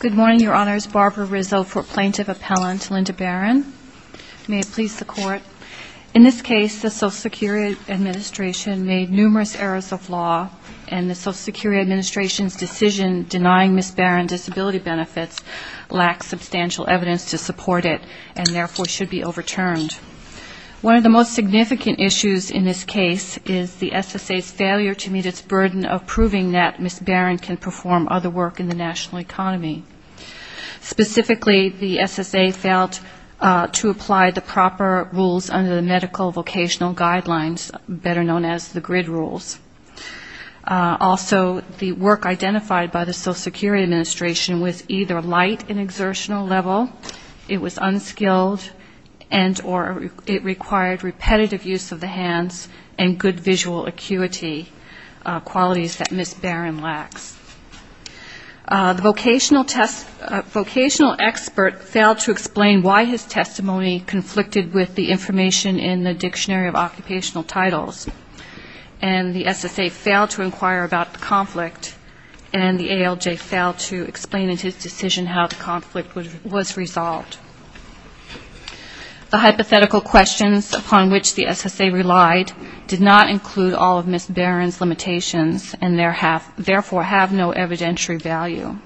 Good morning, Your Honors. Barbara Rizzo, Plaintiff Appellant, Linda Barron. May it please the Court. In this case, the Social Security Administration made numerous errors of law, and the Social Security Administration's decision denying Ms. Barron disability benefits substantial evidence to support it, and therefore should be overturned. One of the most significant issues in this case is the SSA's failure to meet its burden of proving that Ms. Barron can perform other work in the national economy. Specifically, the SSA failed to apply the proper rules under the Medical Vocational Guidelines, better known as the GRID rules. Also, the work identified by the Social Security Administration was either light in exertional level, it was unskilled, and or it required repetitive use of the hands and good visual acuity, qualities that Ms. Barron lacks. The vocational expert failed to explain why his testimony conflicted with the information in the Dictionary of Occupational Titles, and the SSA failed to inquire about the conflict, and the ALJ failed to explain in his decision how the conflict was resolved. The hypothetical questions upon which the SSA relied did not include all of Ms. Barron's limitations, and therefore have no evidentiary value.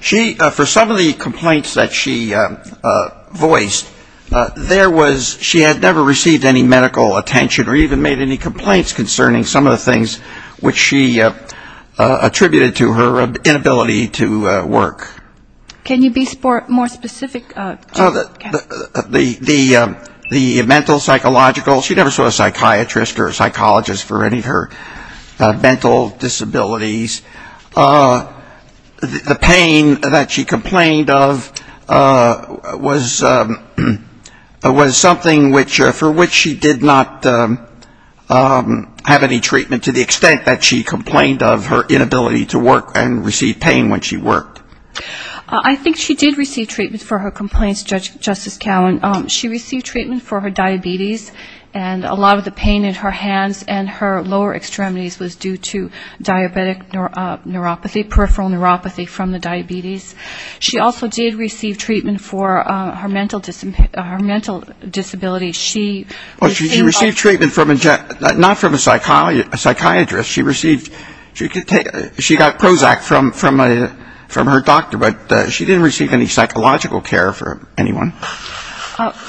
She, for some of the complaints that she voiced, there was, she had never received any medical attention or even made any complaints concerning some of the things which she attributed to her inability to work. Can you be more specific, Kevin? The mental, psychological, she never saw a psychiatrist or a psychologist for any of her mental disabilities. The pain that she complained of was something which, for which she did not have any treatment to the extent that she complained of her inability to work and receive pain when she worked. I think she did receive treatment for her complaints, Justice Cowan. She received treatment for her diabetes, and a lot of the pain in her hands and her lower extremities was due to diabetic neuropathy, peripheral neuropathy from the diabetes. She also did receive treatment for her mental disability. She received treatment from a, not from a psychiatrist. She received, she got Prozac from her doctor, but she didn't receive any psychological care from anyone.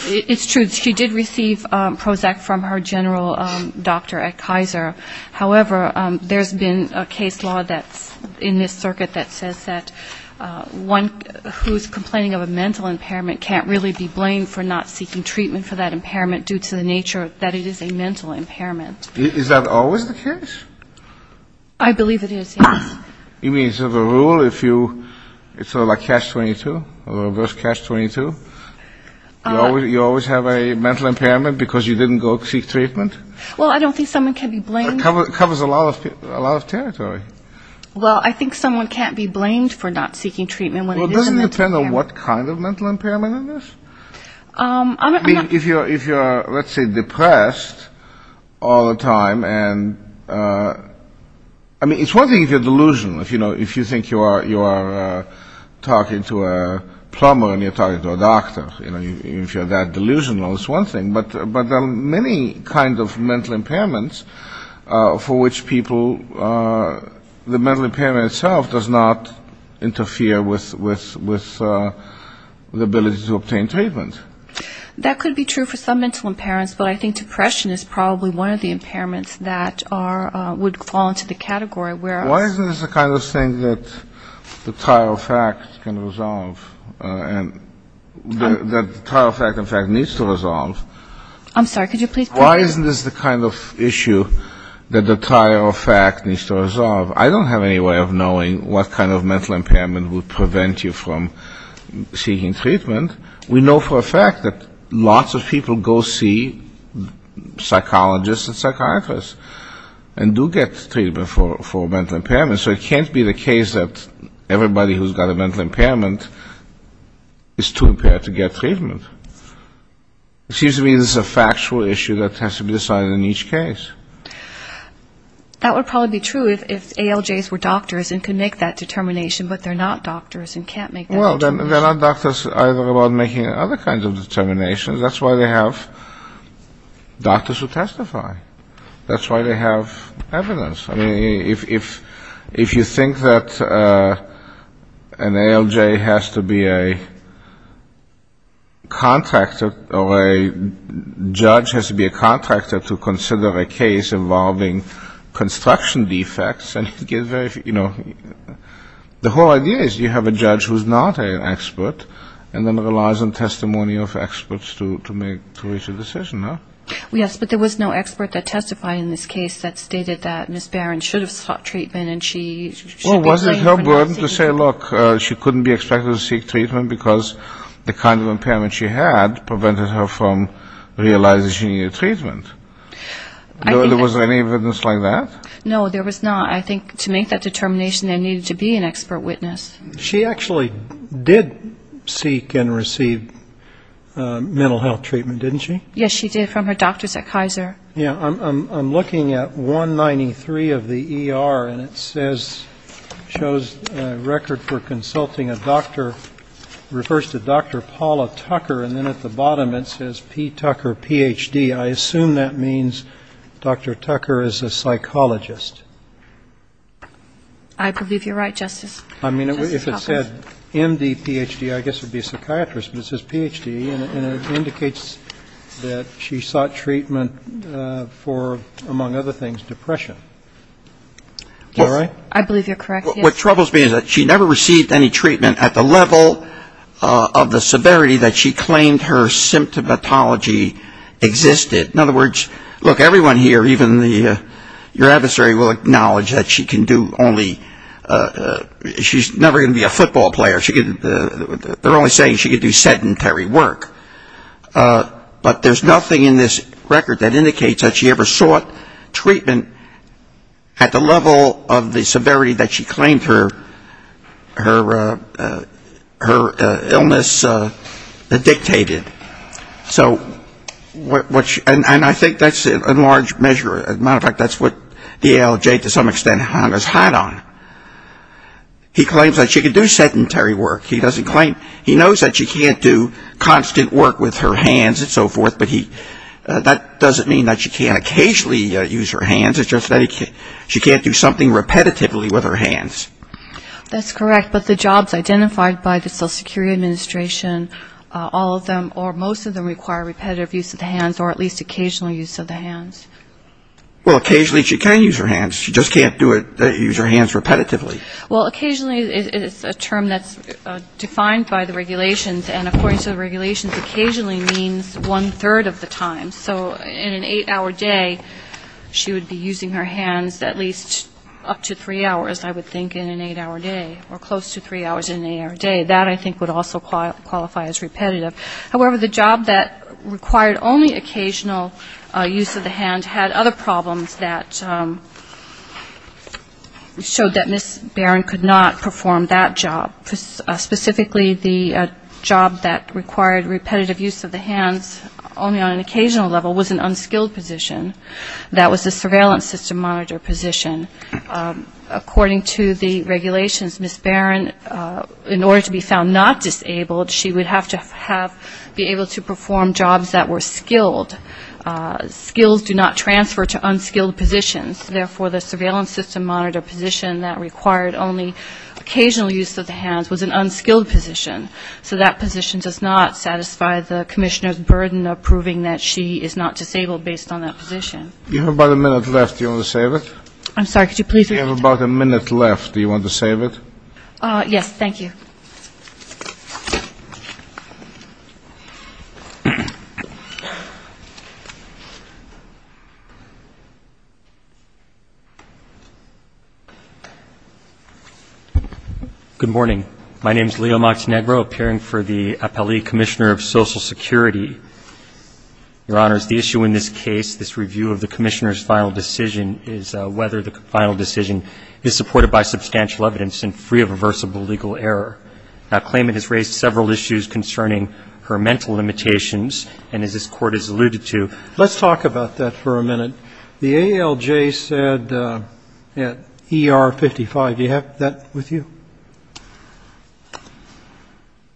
It's true. She did receive Prozac from her general doctor at Kaiser. However, there's been a case law that's in this circuit that says that one who's complaining of a mental impairment can't really be blamed for not seeking treatment for that impairment due to the nature that it is a mental impairment. Is that always the case? I believe it is, yes. You mean it's a rule if you, it's sort of like catch-22, reverse catch-22? You always have a mental impairment because you didn't go seek treatment? Well, I don't think someone can be blamed. It covers a lot of territory. Well, I think someone can't be blamed for not seeking treatment when it isn't a mental impairment. Well, it doesn't depend on what kind of mental impairment it is. If you're, let's say, depressed all the time and, I mean, it's one thing if you're delusional, if you think you are talking to a plumber and you're talking to a doctor. If you're that delusional, it's one thing, but there are many kinds of mental impairments for which people, the mental impairment itself does not interfere with the ability to obtain treatment. That could be true for some mental impairments, but I think depression is probably one of the impairments that are, would fall into the category where... Why isn't this the kind of thing that the tire of fact can resolve and that the tire of fact needs to resolve? I'm sorry, could you please... Why isn't this the kind of issue that the tire of fact needs to resolve? I don't have any way of knowing what kind of mental impairment would prevent you from seeking treatment. We know for a fact that lots of people go see psychologists and psychiatrists and do get treatment for mental impairments, so it can't be the case that everybody who's got a mental impairment is too impaired to get treatment. It seems to me this is a factual issue that has to be decided in each case. That would probably be true if ALJs were doctors and could make that determination, but they're not doctors and can't make that determination. Well, then they're not doctors either about making other kinds of determinations. That's why they have doctors who testify. That's why they have evidence. I mean, if you think that an ALJ has to be a contractor or a judge has to be a contractor to consider a case involving construction defects, you know, the whole idea is you have a judge who's not an expert and then relies on testimony of experts to make a decision, huh? Yes, but there was no expert that testified in this case that stated that Ms. Barron should have sought treatment and she should be blamed for not seeking it. Well, wasn't it her word to say, look, she couldn't be expected to seek treatment because the kind of impairment she had prevented her from realizing she needed treatment? I think that's... Was there any evidence like that? No, there was not. I think to make that determination, there needed to be an expert witness. She actually did seek and receive mental health treatment, didn't she? Yes, she did, from her doctors at Kaiser. Yeah, I'm looking at 193 of the ER and it says, shows a record for consulting a doctor, refers to Dr. Paula Tucker, and then at the bottom it says P. Tucker, Ph.D. I assume that means Dr. Tucker is a psychologist. I believe you're right, Justice. I mean, if it said MD, Ph.D., I guess it would be a psychiatrist, but it says Ph.D. and it indicates that she sought treatment for, among other things, depression. Am I right? I believe you're correct, yes. What troubles me is that she never received any treatment at the level of the severity that she claimed her symptomatology existed. In other words, look, everyone here, even your adversary will acknowledge that she can do only, she's never going to be a football player. They're only saying she can do sedentary work, but there's nothing in this record that indicates that she ever sought treatment at the level of the severity that she claimed her illness dictated. And I think that's in large measure, as a matter of fact, that's what the ALJ to some extent has had on. He claims that she can do sedentary work. He knows that she can't do constant work with her hands and so forth, but that doesn't mean that she can't occasionally use her hands. It's just that she can't do something repetitively with her hands. That's correct, but the jobs identified by the Social Security Administration, all of them or most of them require repetitive use of the hands, or at least occasional use of the hands. Well, occasionally she can use her hands, she just can't do it, use her hands repetitively. Well, occasionally is a term that's defined by the regulations, and according to the regulations, occasionally means one-third of the time. So in an eight-hour day, she would be using her hands at least up to three hours, I would think, in an eight-hour day, or close to three hours in an eight-hour day. That I think would also qualify as repetitive. However, the job that required only occasional use of the hands had other problems that showed that Ms. Barron could not perform that job. Specifically, the job that required repetitive use of the hands only on an occasional level was an unskilled position. That was a surveillance system monitor position. According to the regulations, Ms. Barron, in order to be found not disabled, she would have to be able to perform jobs that were skilled. Skills do not transfer to unskilled positions. Therefore, the surveillance system monitor position that required only occasional use of the hands was an unskilled position. So that position does not satisfy the commissioner's burden of proving that she is not disabled, based on that position. You have about a minute left. Do you want to save it? I'm sorry, could you please repeat that? You have about a minute left. Do you want to save it? Yes, thank you. Good morning. My name is Leo Moxnegro, appearing for the Appellee Commissioner of Social Security. Your Honors, the issue in this case, this review of the commissioner's final decision, is whether the final decision is supported by substantial evidence and free of reversible legal error. The claimant has raised several issues concerning her mental limitations, and as this Court has alluded to. Let's talk about that for a minute. The ALJ said at ER 55, do you have that with you?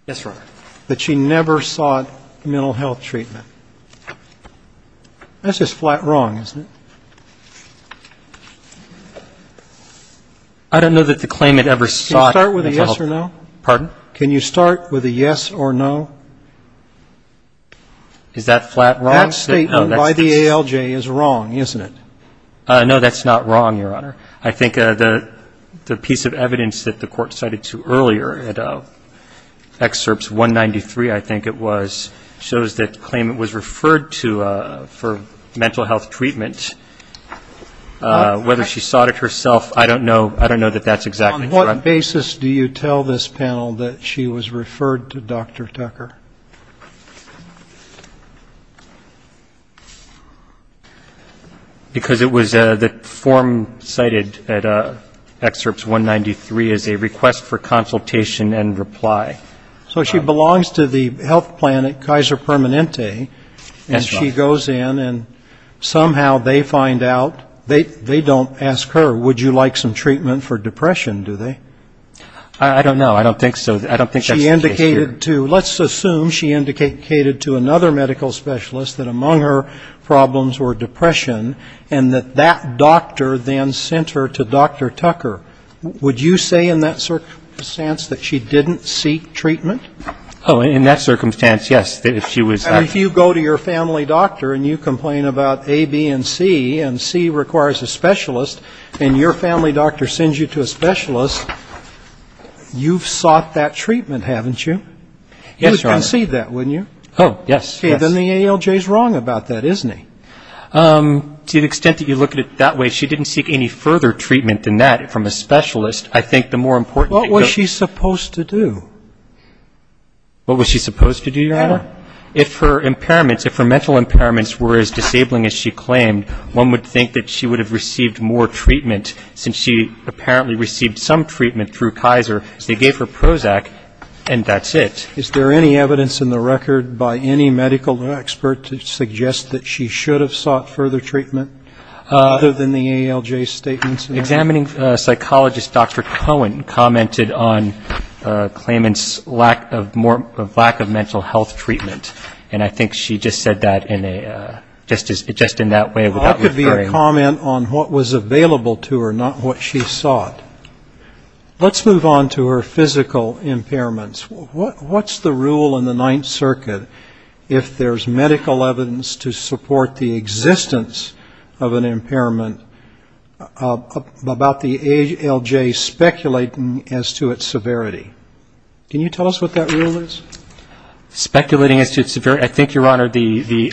Yes, Your Honor. That she never sought mental health treatment. That's just flat wrong, isn't it? I don't know that the claimant ever sought mental health treatment. Can you start with a yes or no? Pardon? Can you start with a yes or no? Is that flat wrong? That statement by the ALJ is wrong, isn't it? No, that's not wrong, Your Honor. I think the piece of evidence that the Court cited to earlier at Excerpts 193, I think it was, shows that the claimant was referred to for mental health treatment. Whether she sought it herself, I don't know. I don't know that that's exactly correct. On what basis do you tell this panel that she was referred to Dr. Tucker? Because it was the form cited at Excerpts 193 as a request for consultation and reply. So she belongs to the health plan at Kaiser Permanente. Yes, Your Honor. And she goes in and somehow they find out, they don't ask her, would you like some treatment for depression, do they? I don't know. I don't think so. I don't think that's the case here. She indicated to, let's assume she indicated to another medical specialist that among her problems were depression and that that doctor then sent her to Dr. Tucker. Would you say in that circumstance that she didn't seek treatment? Oh, in that circumstance, yes, if she was. And if you go to your family doctor and you complain about A, B, and C, and C requires a specialist, and your family doctor sends you to a specialist, you've sought that treatment, haven't you? Yes, Your Honor. You would concede that, wouldn't you? Oh, yes. Then the ALJ is wrong about that, isn't he? To the extent that you look at it that way, she didn't seek any further treatment than that from a specialist. I think the more important thing to go to. What was she supposed to do? What was she supposed to do, Your Honor? If her impairments, if her mental impairments were as disabling as she claimed, one would think that she would have received more treatment since she apparently received some treatment through Kaiser. They gave her Prozac and that's it. Is there any evidence in the record by any medical expert to suggest that she should have sought further treatment, other than the ALJ statements? Examining psychologist Dr. Cohen commented on claimant's lack of mental health treatment, and I think she just said that just in that way without referring. That could be a comment on what was available to her, not what she sought. Let's move on to her physical impairments. What's the rule in the Ninth Circuit if there's medical evidence to support the existence of an impairment about the ALJ speculating as to its severity? Can you tell us what that rule is? Speculating as to its severity. I think, Your Honor, the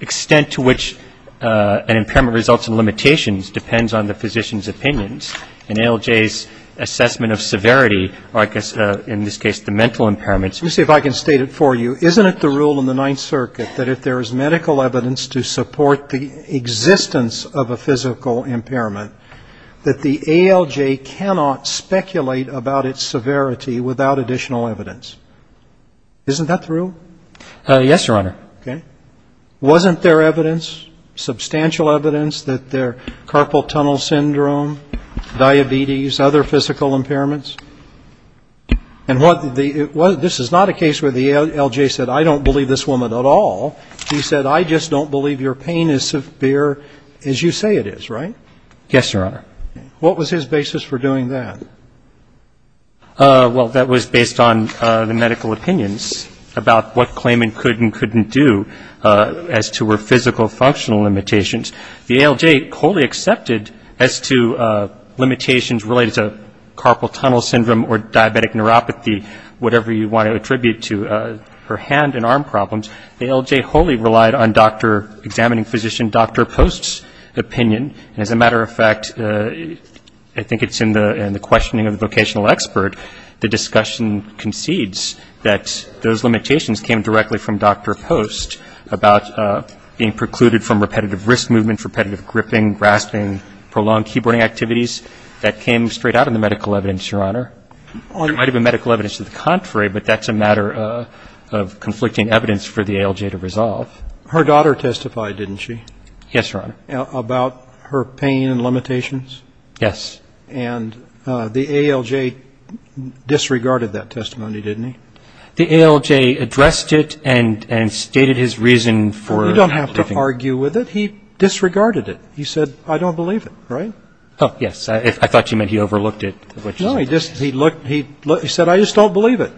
extent to which an impairment results in limitations depends on the physician's opinions. In ALJ's assessment of severity, or I guess in this case the mental impairments. Let me see if I can state it for you. Isn't it the rule in the Ninth Circuit that if there is medical evidence to support the existence of a physical impairment, that the ALJ cannot speculate about its severity without additional evidence? Isn't that the rule? Yes, Your Honor. Okay. Wasn't there evidence, substantial evidence, that there are carpal tunnel syndrome, diabetes, other physical impairments? And this is not a case where the ALJ said, I don't believe this woman at all. He said, I just don't believe your pain is severe as you say it is, right? Yes, Your Honor. What was his basis for doing that? Well, that was based on the medical opinions about what claiming could and couldn't do as to her physical functional limitations. The ALJ wholly accepted as to limitations related to carpal tunnel syndrome or diabetic neuropathy, whatever you want to attribute to her hand and arm problems. The ALJ wholly relied on examining physician Dr. Post's opinion. And as a matter of fact, I think it's in the questioning of the vocational expert, the discussion concedes that those limitations came directly from Dr. Post about being precluded from repetitive wrist movement, repetitive gripping, grasping, prolonged keyboarding activities. That came straight out of the medical evidence, Your Honor. There might have been medical evidence to the contrary, but that's a matter of conflicting evidence for the ALJ to resolve. Her daughter testified, didn't she? Yes, Your Honor. About her pain and limitations. Yes. And the ALJ disregarded that testimony, didn't he? The ALJ addressed it and stated his reason for. You don't have to argue with it. He disregarded it. He said, I don't believe it, right? Oh, yes. I thought you meant he overlooked it. No, he said, I just don't believe it.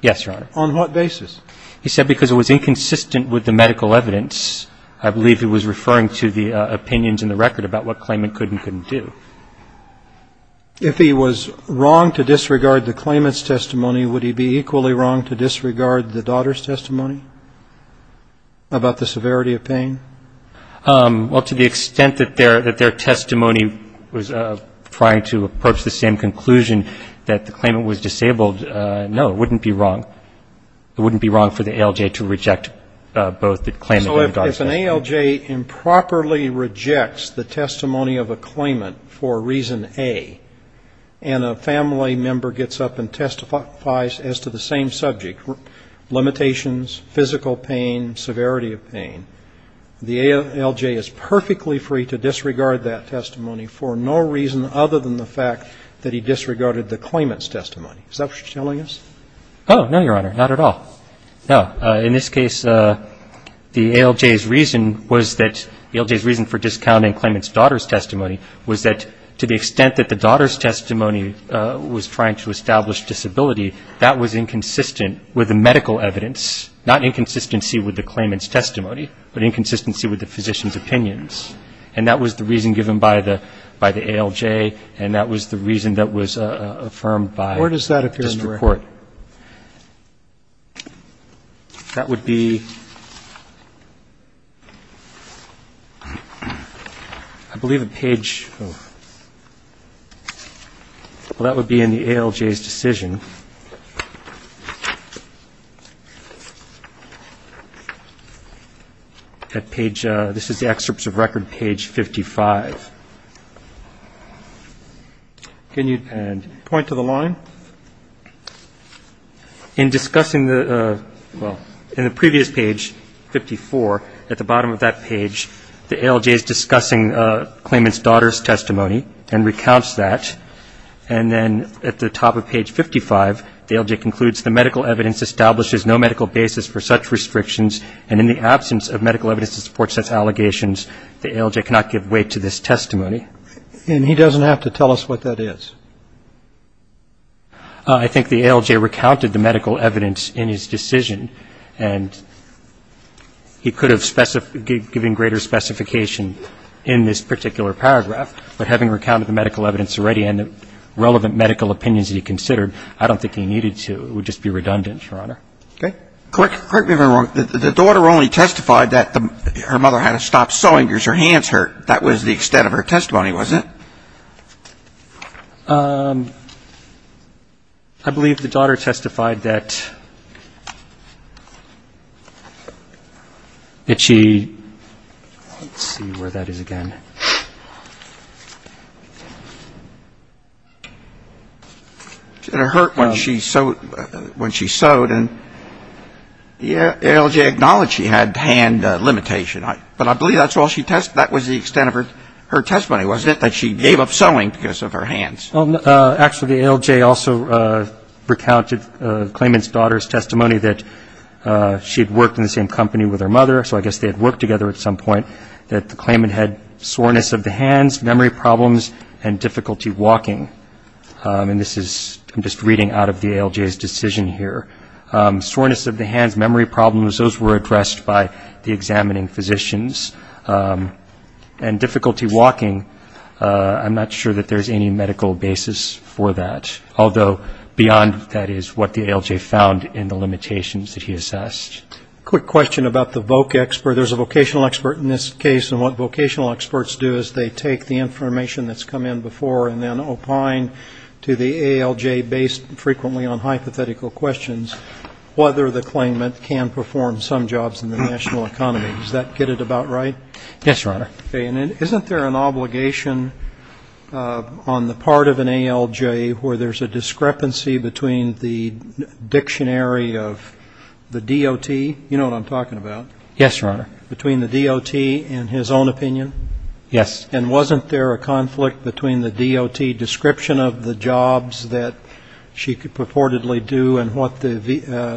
Yes, Your Honor. On what basis? He said because it was inconsistent with the medical evidence. I believe he was referring to the opinions in the record about what claimant could and couldn't do. If he was wrong to disregard the claimant's testimony, would he be equally wrong to disregard the daughter's testimony about the severity of pain? Well, to the extent that their testimony was trying to approach the same conclusion that the claimant was disabled, no, it wouldn't be wrong. It wouldn't be wrong for the ALJ to reject both the claimant and daughter's testimony. So if an ALJ improperly rejects the testimony of a claimant for reason A and a family member gets up and testifies as to the same subject, limitations, physical pain, severity of pain, the ALJ is perfectly free to disregard that testimony for no reason other than the fact that he disregarded the claimant's testimony. Is that what you're telling us? Oh, no, Your Honor. Not at all. No. In this case, the ALJ's reason was that the ALJ's reason for discounting claimant's daughter's testimony was that to the extent that the daughter's testimony was trying to establish disability, that was inconsistent with the medical evidence, not inconsistency with the claimant's testimony, but inconsistency with the physician's opinions. And that was the reason given by the ALJ, and that was the reason that was affirmed by district court. That would be, I believe, a page of, well, that would be in the ALJ's decision. At page, this is the excerpts of record, page 55. Can you point to the line? In discussing the, well, in the previous page, 54, at the bottom of that page, the ALJ is discussing claimant's daughter's testimony and recounts that, and then at the top of page 55, the ALJ concludes the medical evidence establishes no medical basis for such restrictions, and in the absence of medical evidence to support such allegations, the ALJ cannot give way to this testimony. And he doesn't have to tell us what that is. I think the ALJ recounted the medical evidence in his decision, and he could have specified, given greater specification in this particular paragraph, but having recounted the medical evidence already and the relevant medical opinions he considered, I don't think he needed to. It would just be redundant, Your Honor. Okay. Correct me if I'm wrong. The daughter only testified that her mother had to stop sewing because her hands hurt. That was the extent of her testimony, wasn't it? I believe the daughter testified that she, let's see where that is again. That her hand hurt when she sewed, and the ALJ acknowledged she had hand limitation. But I believe that was the extent of her testimony, wasn't it, that she gave up sewing because of her hands. Actually, the ALJ also recounted the claimant's daughter's testimony that she had worked in the same company with her mother, so I guess they had worked together at some point, that the claimant had soreness of the hands, memory problems, and difficulty walking. And this is just reading out of the ALJ's decision here. Soreness of the hands, memory problems, those were addressed by the examining physicians. And difficulty walking, I'm not sure that there's any medical basis for that, although beyond that is what the ALJ found in the limitations that he assessed. Quick question about the voc expert. There's a vocational expert in this case, and what vocational experts do is they take the information that's come in before and then opine to the ALJ based frequently on hypothetical questions whether the claimant can perform some vocational activities that are related to the vocational economy. Does that get it about right? Yes, Your Honor. Okay. And isn't there an obligation on the part of an ALJ where there's a discrepancy between the dictionary of the DOT, you know what I'm talking about, between the DOT and his own opinion? Yes. And wasn't there a conflict between the DOT description of the jobs that she purportedly do and what the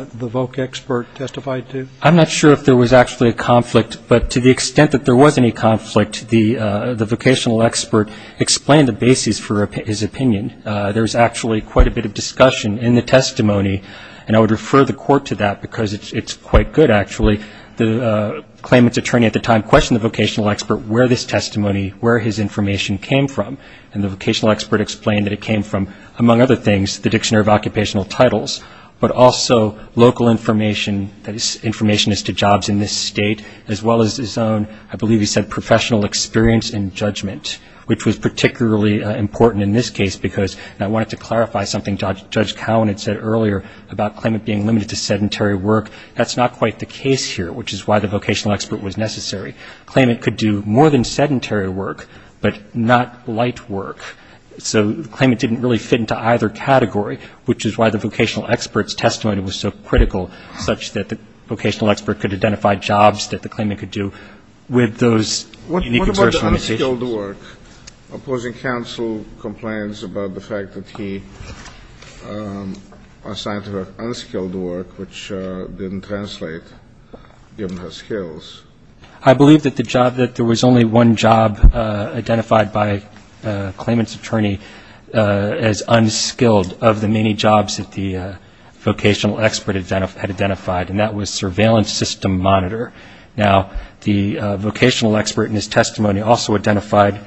voc expert testified to? I'm not sure if there was actually a conflict, but to the extent that there was any conflict the vocational expert explained the basis for his opinion. There was actually quite a bit of discussion in the testimony, and I would refer the court to that because it's quite good actually. The claimant's attorney at the time questioned the vocational expert where this testimony, where his information came from, and the vocational expert explained that it came from, among other things, the dictionary of occupational titles, but also local information, that is, information as to jobs in this state, as well as his own, I believe he said, professional experience in judgment, which was particularly important in this case because, and I wanted to clarify something Judge Cowan had said earlier about claimant being limited to sedentary work, that's not quite the case here, which is why the vocational expert was necessary. Claimant could do more than sedentary work, but not light work. So the claimant didn't really fit into either category, which is why the vocational expert's testimony was so critical, such that the vocational expert could identify jobs that the claimant could do with those unique observational decisions. What about the unskilled work? Opposing counsel complains about the fact that he assigned her unskilled work, which didn't translate given her skills. I believe that the job, that there was only one job identified by claimant's attorney as unskilled of the many jobs that the vocational expert had identified, and that was surveillance system monitor. Now, the vocational expert in his testimony also identified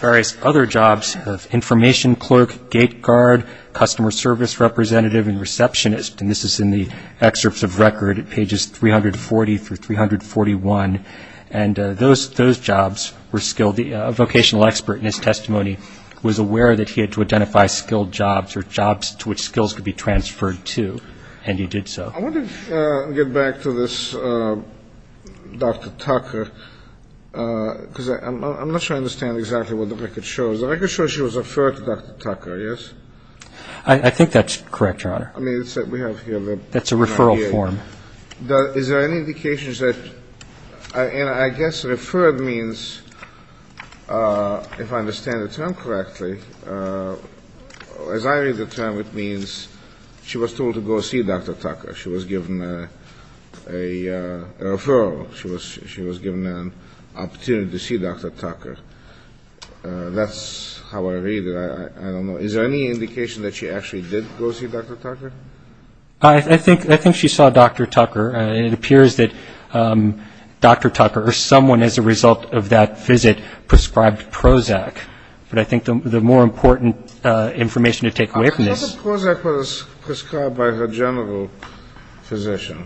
various other jobs, information clerk, gate guard, customer service representative, and receptionist, and this is in the excerpts of record at pages 340 through 341, and those jobs were skilled. The vocational expert in his testimony was aware that he had to identify unskilled jobs or jobs to which skills could be transferred to, and he did so. I want to get back to this Dr. Tucker, because I'm not sure I understand exactly what the record shows. The record shows she was referred to Dr. Tucker, yes? I think that's correct, Your Honor. I mean, it's that we have here. That's a referral form. Is there any indications that, and I guess referred means, if I understand the term correctly, as I read the term, it means she was told to go see Dr. Tucker. She was given a referral. She was given an opportunity to see Dr. Tucker. That's how I read it. I don't know. Is there any indication that she actually did go see Dr. Tucker? I think she saw Dr. Tucker. It appears that Dr. Tucker, or someone as a result of that visit, prescribed Prozac. But I think the more important information to take away from this. I thought Prozac was prescribed by her general physician,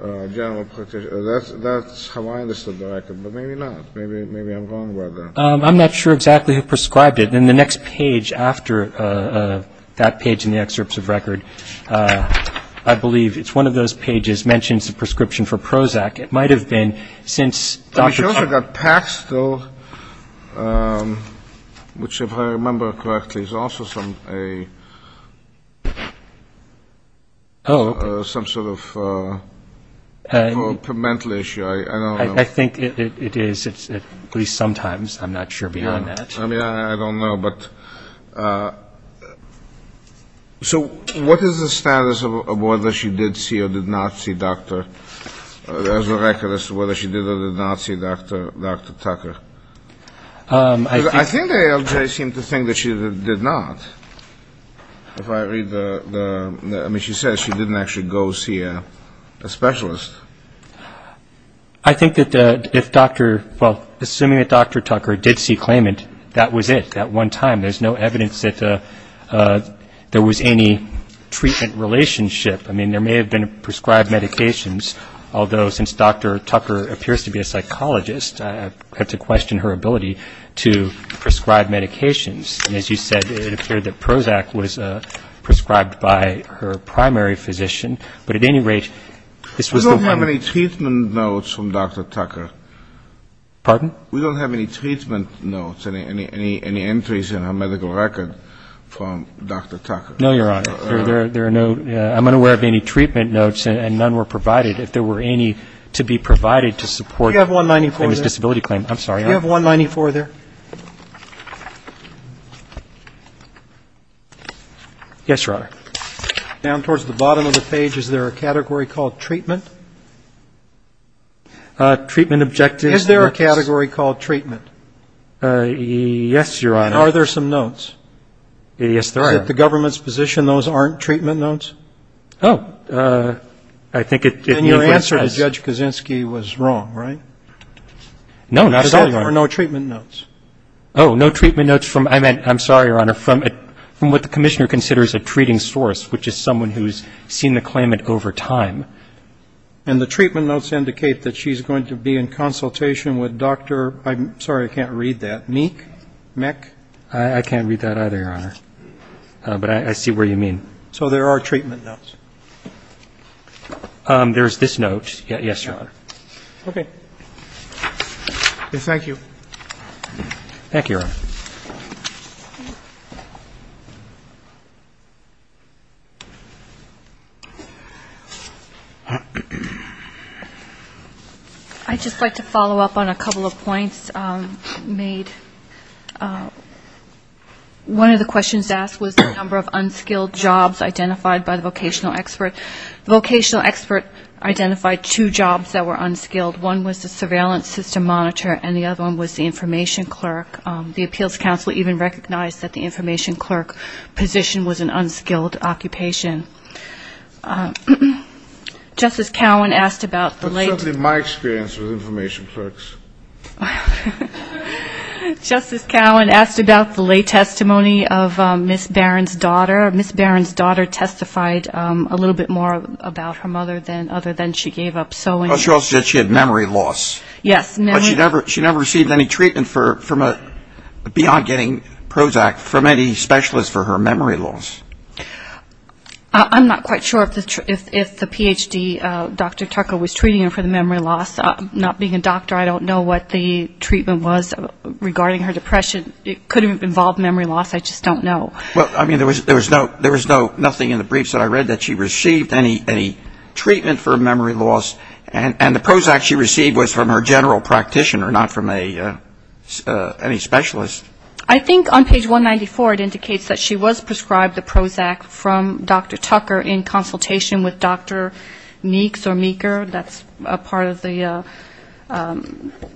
general practitioner. That's how I understood the record, but maybe not. Maybe I'm wrong about that. I'm not sure exactly who prescribed it. Then the next page after that page in the excerpts of record, I believe it's one of those pages, mentions the prescription for Prozac. It might have been since Dr. Tucker. She also got Pax, though, which if I remember correctly is also some sort of mental issue. I don't know. I think it is, at least sometimes. I'm not sure beyond that. I mean, I don't know. But so what is the status of whether she did see or did not see Dr., as a record, as to whether she did or did not see Dr. Tucker? I think ALJ seemed to think that she did not. If I read the, I mean, she says she didn't actually go see a specialist. I think that if Dr. ‑‑ well, assuming that Dr. Tucker did see claimant, that was it at one time. There's no evidence that there was any treatment relationship. I mean, there may have been prescribed medications, although since Dr. Tucker appears to be a psychologist, I have to question her ability to prescribe medications. And as you said, it appeared that Prozac was prescribed by her primary physician. But at any rate, this was the one ‑‑ We don't have any treatment notes from Dr. Tucker. Pardon? We don't have any treatment notes, any entries in her medical record from Dr. Tucker. No, Your Honor. There are no ‑‑ I'm unaware of any treatment notes, and none were provided, if there were any to be provided to support his disability claim. Do you have 194 there? I'm sorry. Do you have 194 there? Yes, Your Honor. Down towards the bottom of the page, is there a category called treatment? Treatment objectives. Is there a category called treatment? Yes, Your Honor. Are there some notes? Yes, there are. Is it the government's position those aren't treatment notes? Oh, I think it is. And your answer to Judge Kaczynski was wrong, right? No, not at all, Your Honor. Because there were no treatment notes. Oh, no treatment notes from ‑‑ I'm sorry, Your Honor. From what the commissioner considers a treating source, which is someone who's seen the claimant over time. And the treatment notes indicate that she's going to be in consultation with Dr. ‑‑ I'm sorry, I can't read that. Meek? Meck? I can't read that either, Your Honor. But I see where you mean. So there are treatment notes. There's this note. Yes, Your Honor. Okay. Thank you. Thank you, Your Honor. I'd just like to follow up on a couple of points made. One of the questions asked was the number of unskilled jobs identified by the vocational expert. The vocational expert identified two jobs that were unskilled. One was the surveillance system monitor, and the other one was the information clerk. The appeals counsel even recognized that the information clerk position was an unskilled occupation. Justice Cowan asked about the late ‑‑ That's certainly my experience with information clerks. Justice Cowan asked about the late testimony of Ms. Barron's daughter. Ms. Barron's daughter testified a little bit more about her mother other than she gave up sewing. She also said she had memory loss. Yes. But she never received any treatment beyond getting Prozac from any specialist for her memory loss. I'm not quite sure if the Ph.D., Dr. Tucker, was treating her for the memory loss. Not being a doctor, I don't know what the treatment was regarding her depression. It could have involved memory loss. I just don't know. Well, I mean, there was nothing in the briefs that I read that she received any treatment for memory loss. And the Prozac she received was from her general practitioner, not from any specialist. I think on page 194 it indicates that she was prescribed the Prozac from Dr. Tucker in consultation with Dr. Meeks or Meeker, that's a part of the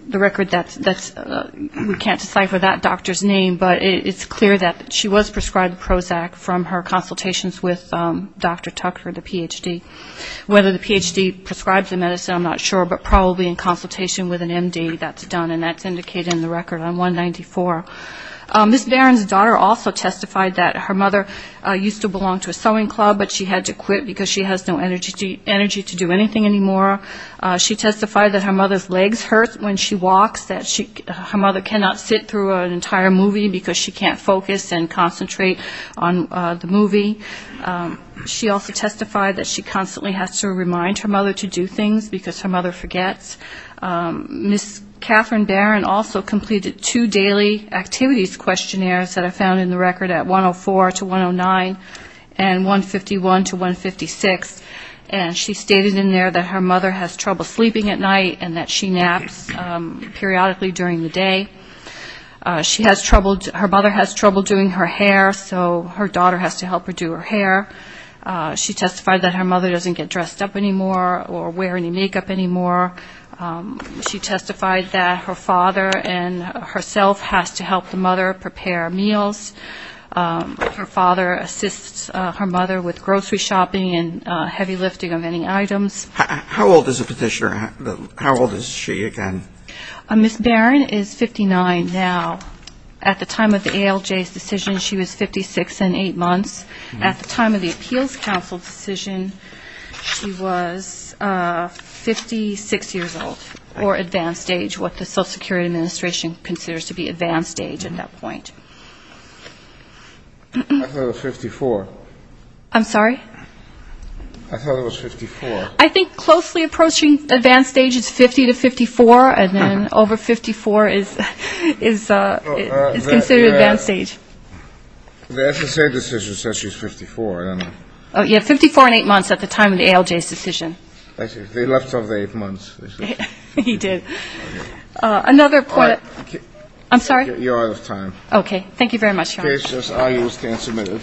record that we can't decipher that doctor's name. But it's clear that she was prescribed Prozac from her consultations with Dr. Tucker, the Ph.D. Whether the Ph.D. prescribed the medicine, I'm not sure, but probably in consultation with an M.D., that's done. And that's indicated in the record on 194. Ms. Barron's daughter also testified that her mother used to belong to a sewing club, but she had to quit because she has no energy to do anything anymore. She testified that her mother's legs hurt when she walks, that her mother cannot sit through an entire movie because she can't focus and concentrate on the movie. She also testified that she constantly has to remind her mother to do things because her mother forgets. Ms. Catherine Barron also completed two daily activities questionnaires that are found in the record at 104-109 and 151-156. And she stated in there that her mother has trouble sleeping at night and that she naps periodically during the day. She has trouble, her mother has trouble doing her hair, so her daughter has to help her do her hair. She testified that her mother doesn't get dressed up anymore or wear any makeup anymore. She testified that her father and herself has to help the mother prepare meals. Her father assists her mother with grocery shopping and heavy lifting of any items. How old is the petitioner? How old is she again? Ms. Barron is 59 now. At the time of the ALJ's decision, she was 56 and 8 months. At the time of the Appeals Council decision, she was 56 years old, or advanced age, what the Social Security Administration considers to be advanced age at that point. I thought it was 54. I'm sorry? I thought it was 54. I think closely approaching advanced age is 50 to 54, and then over 54 is considered advanced age. The SSA decision says she's 54. They left her there for months. He did. Another point. I'm sorry? You're out of time. Okay. Thank you very much, Your Honor. Cases are used and submitted.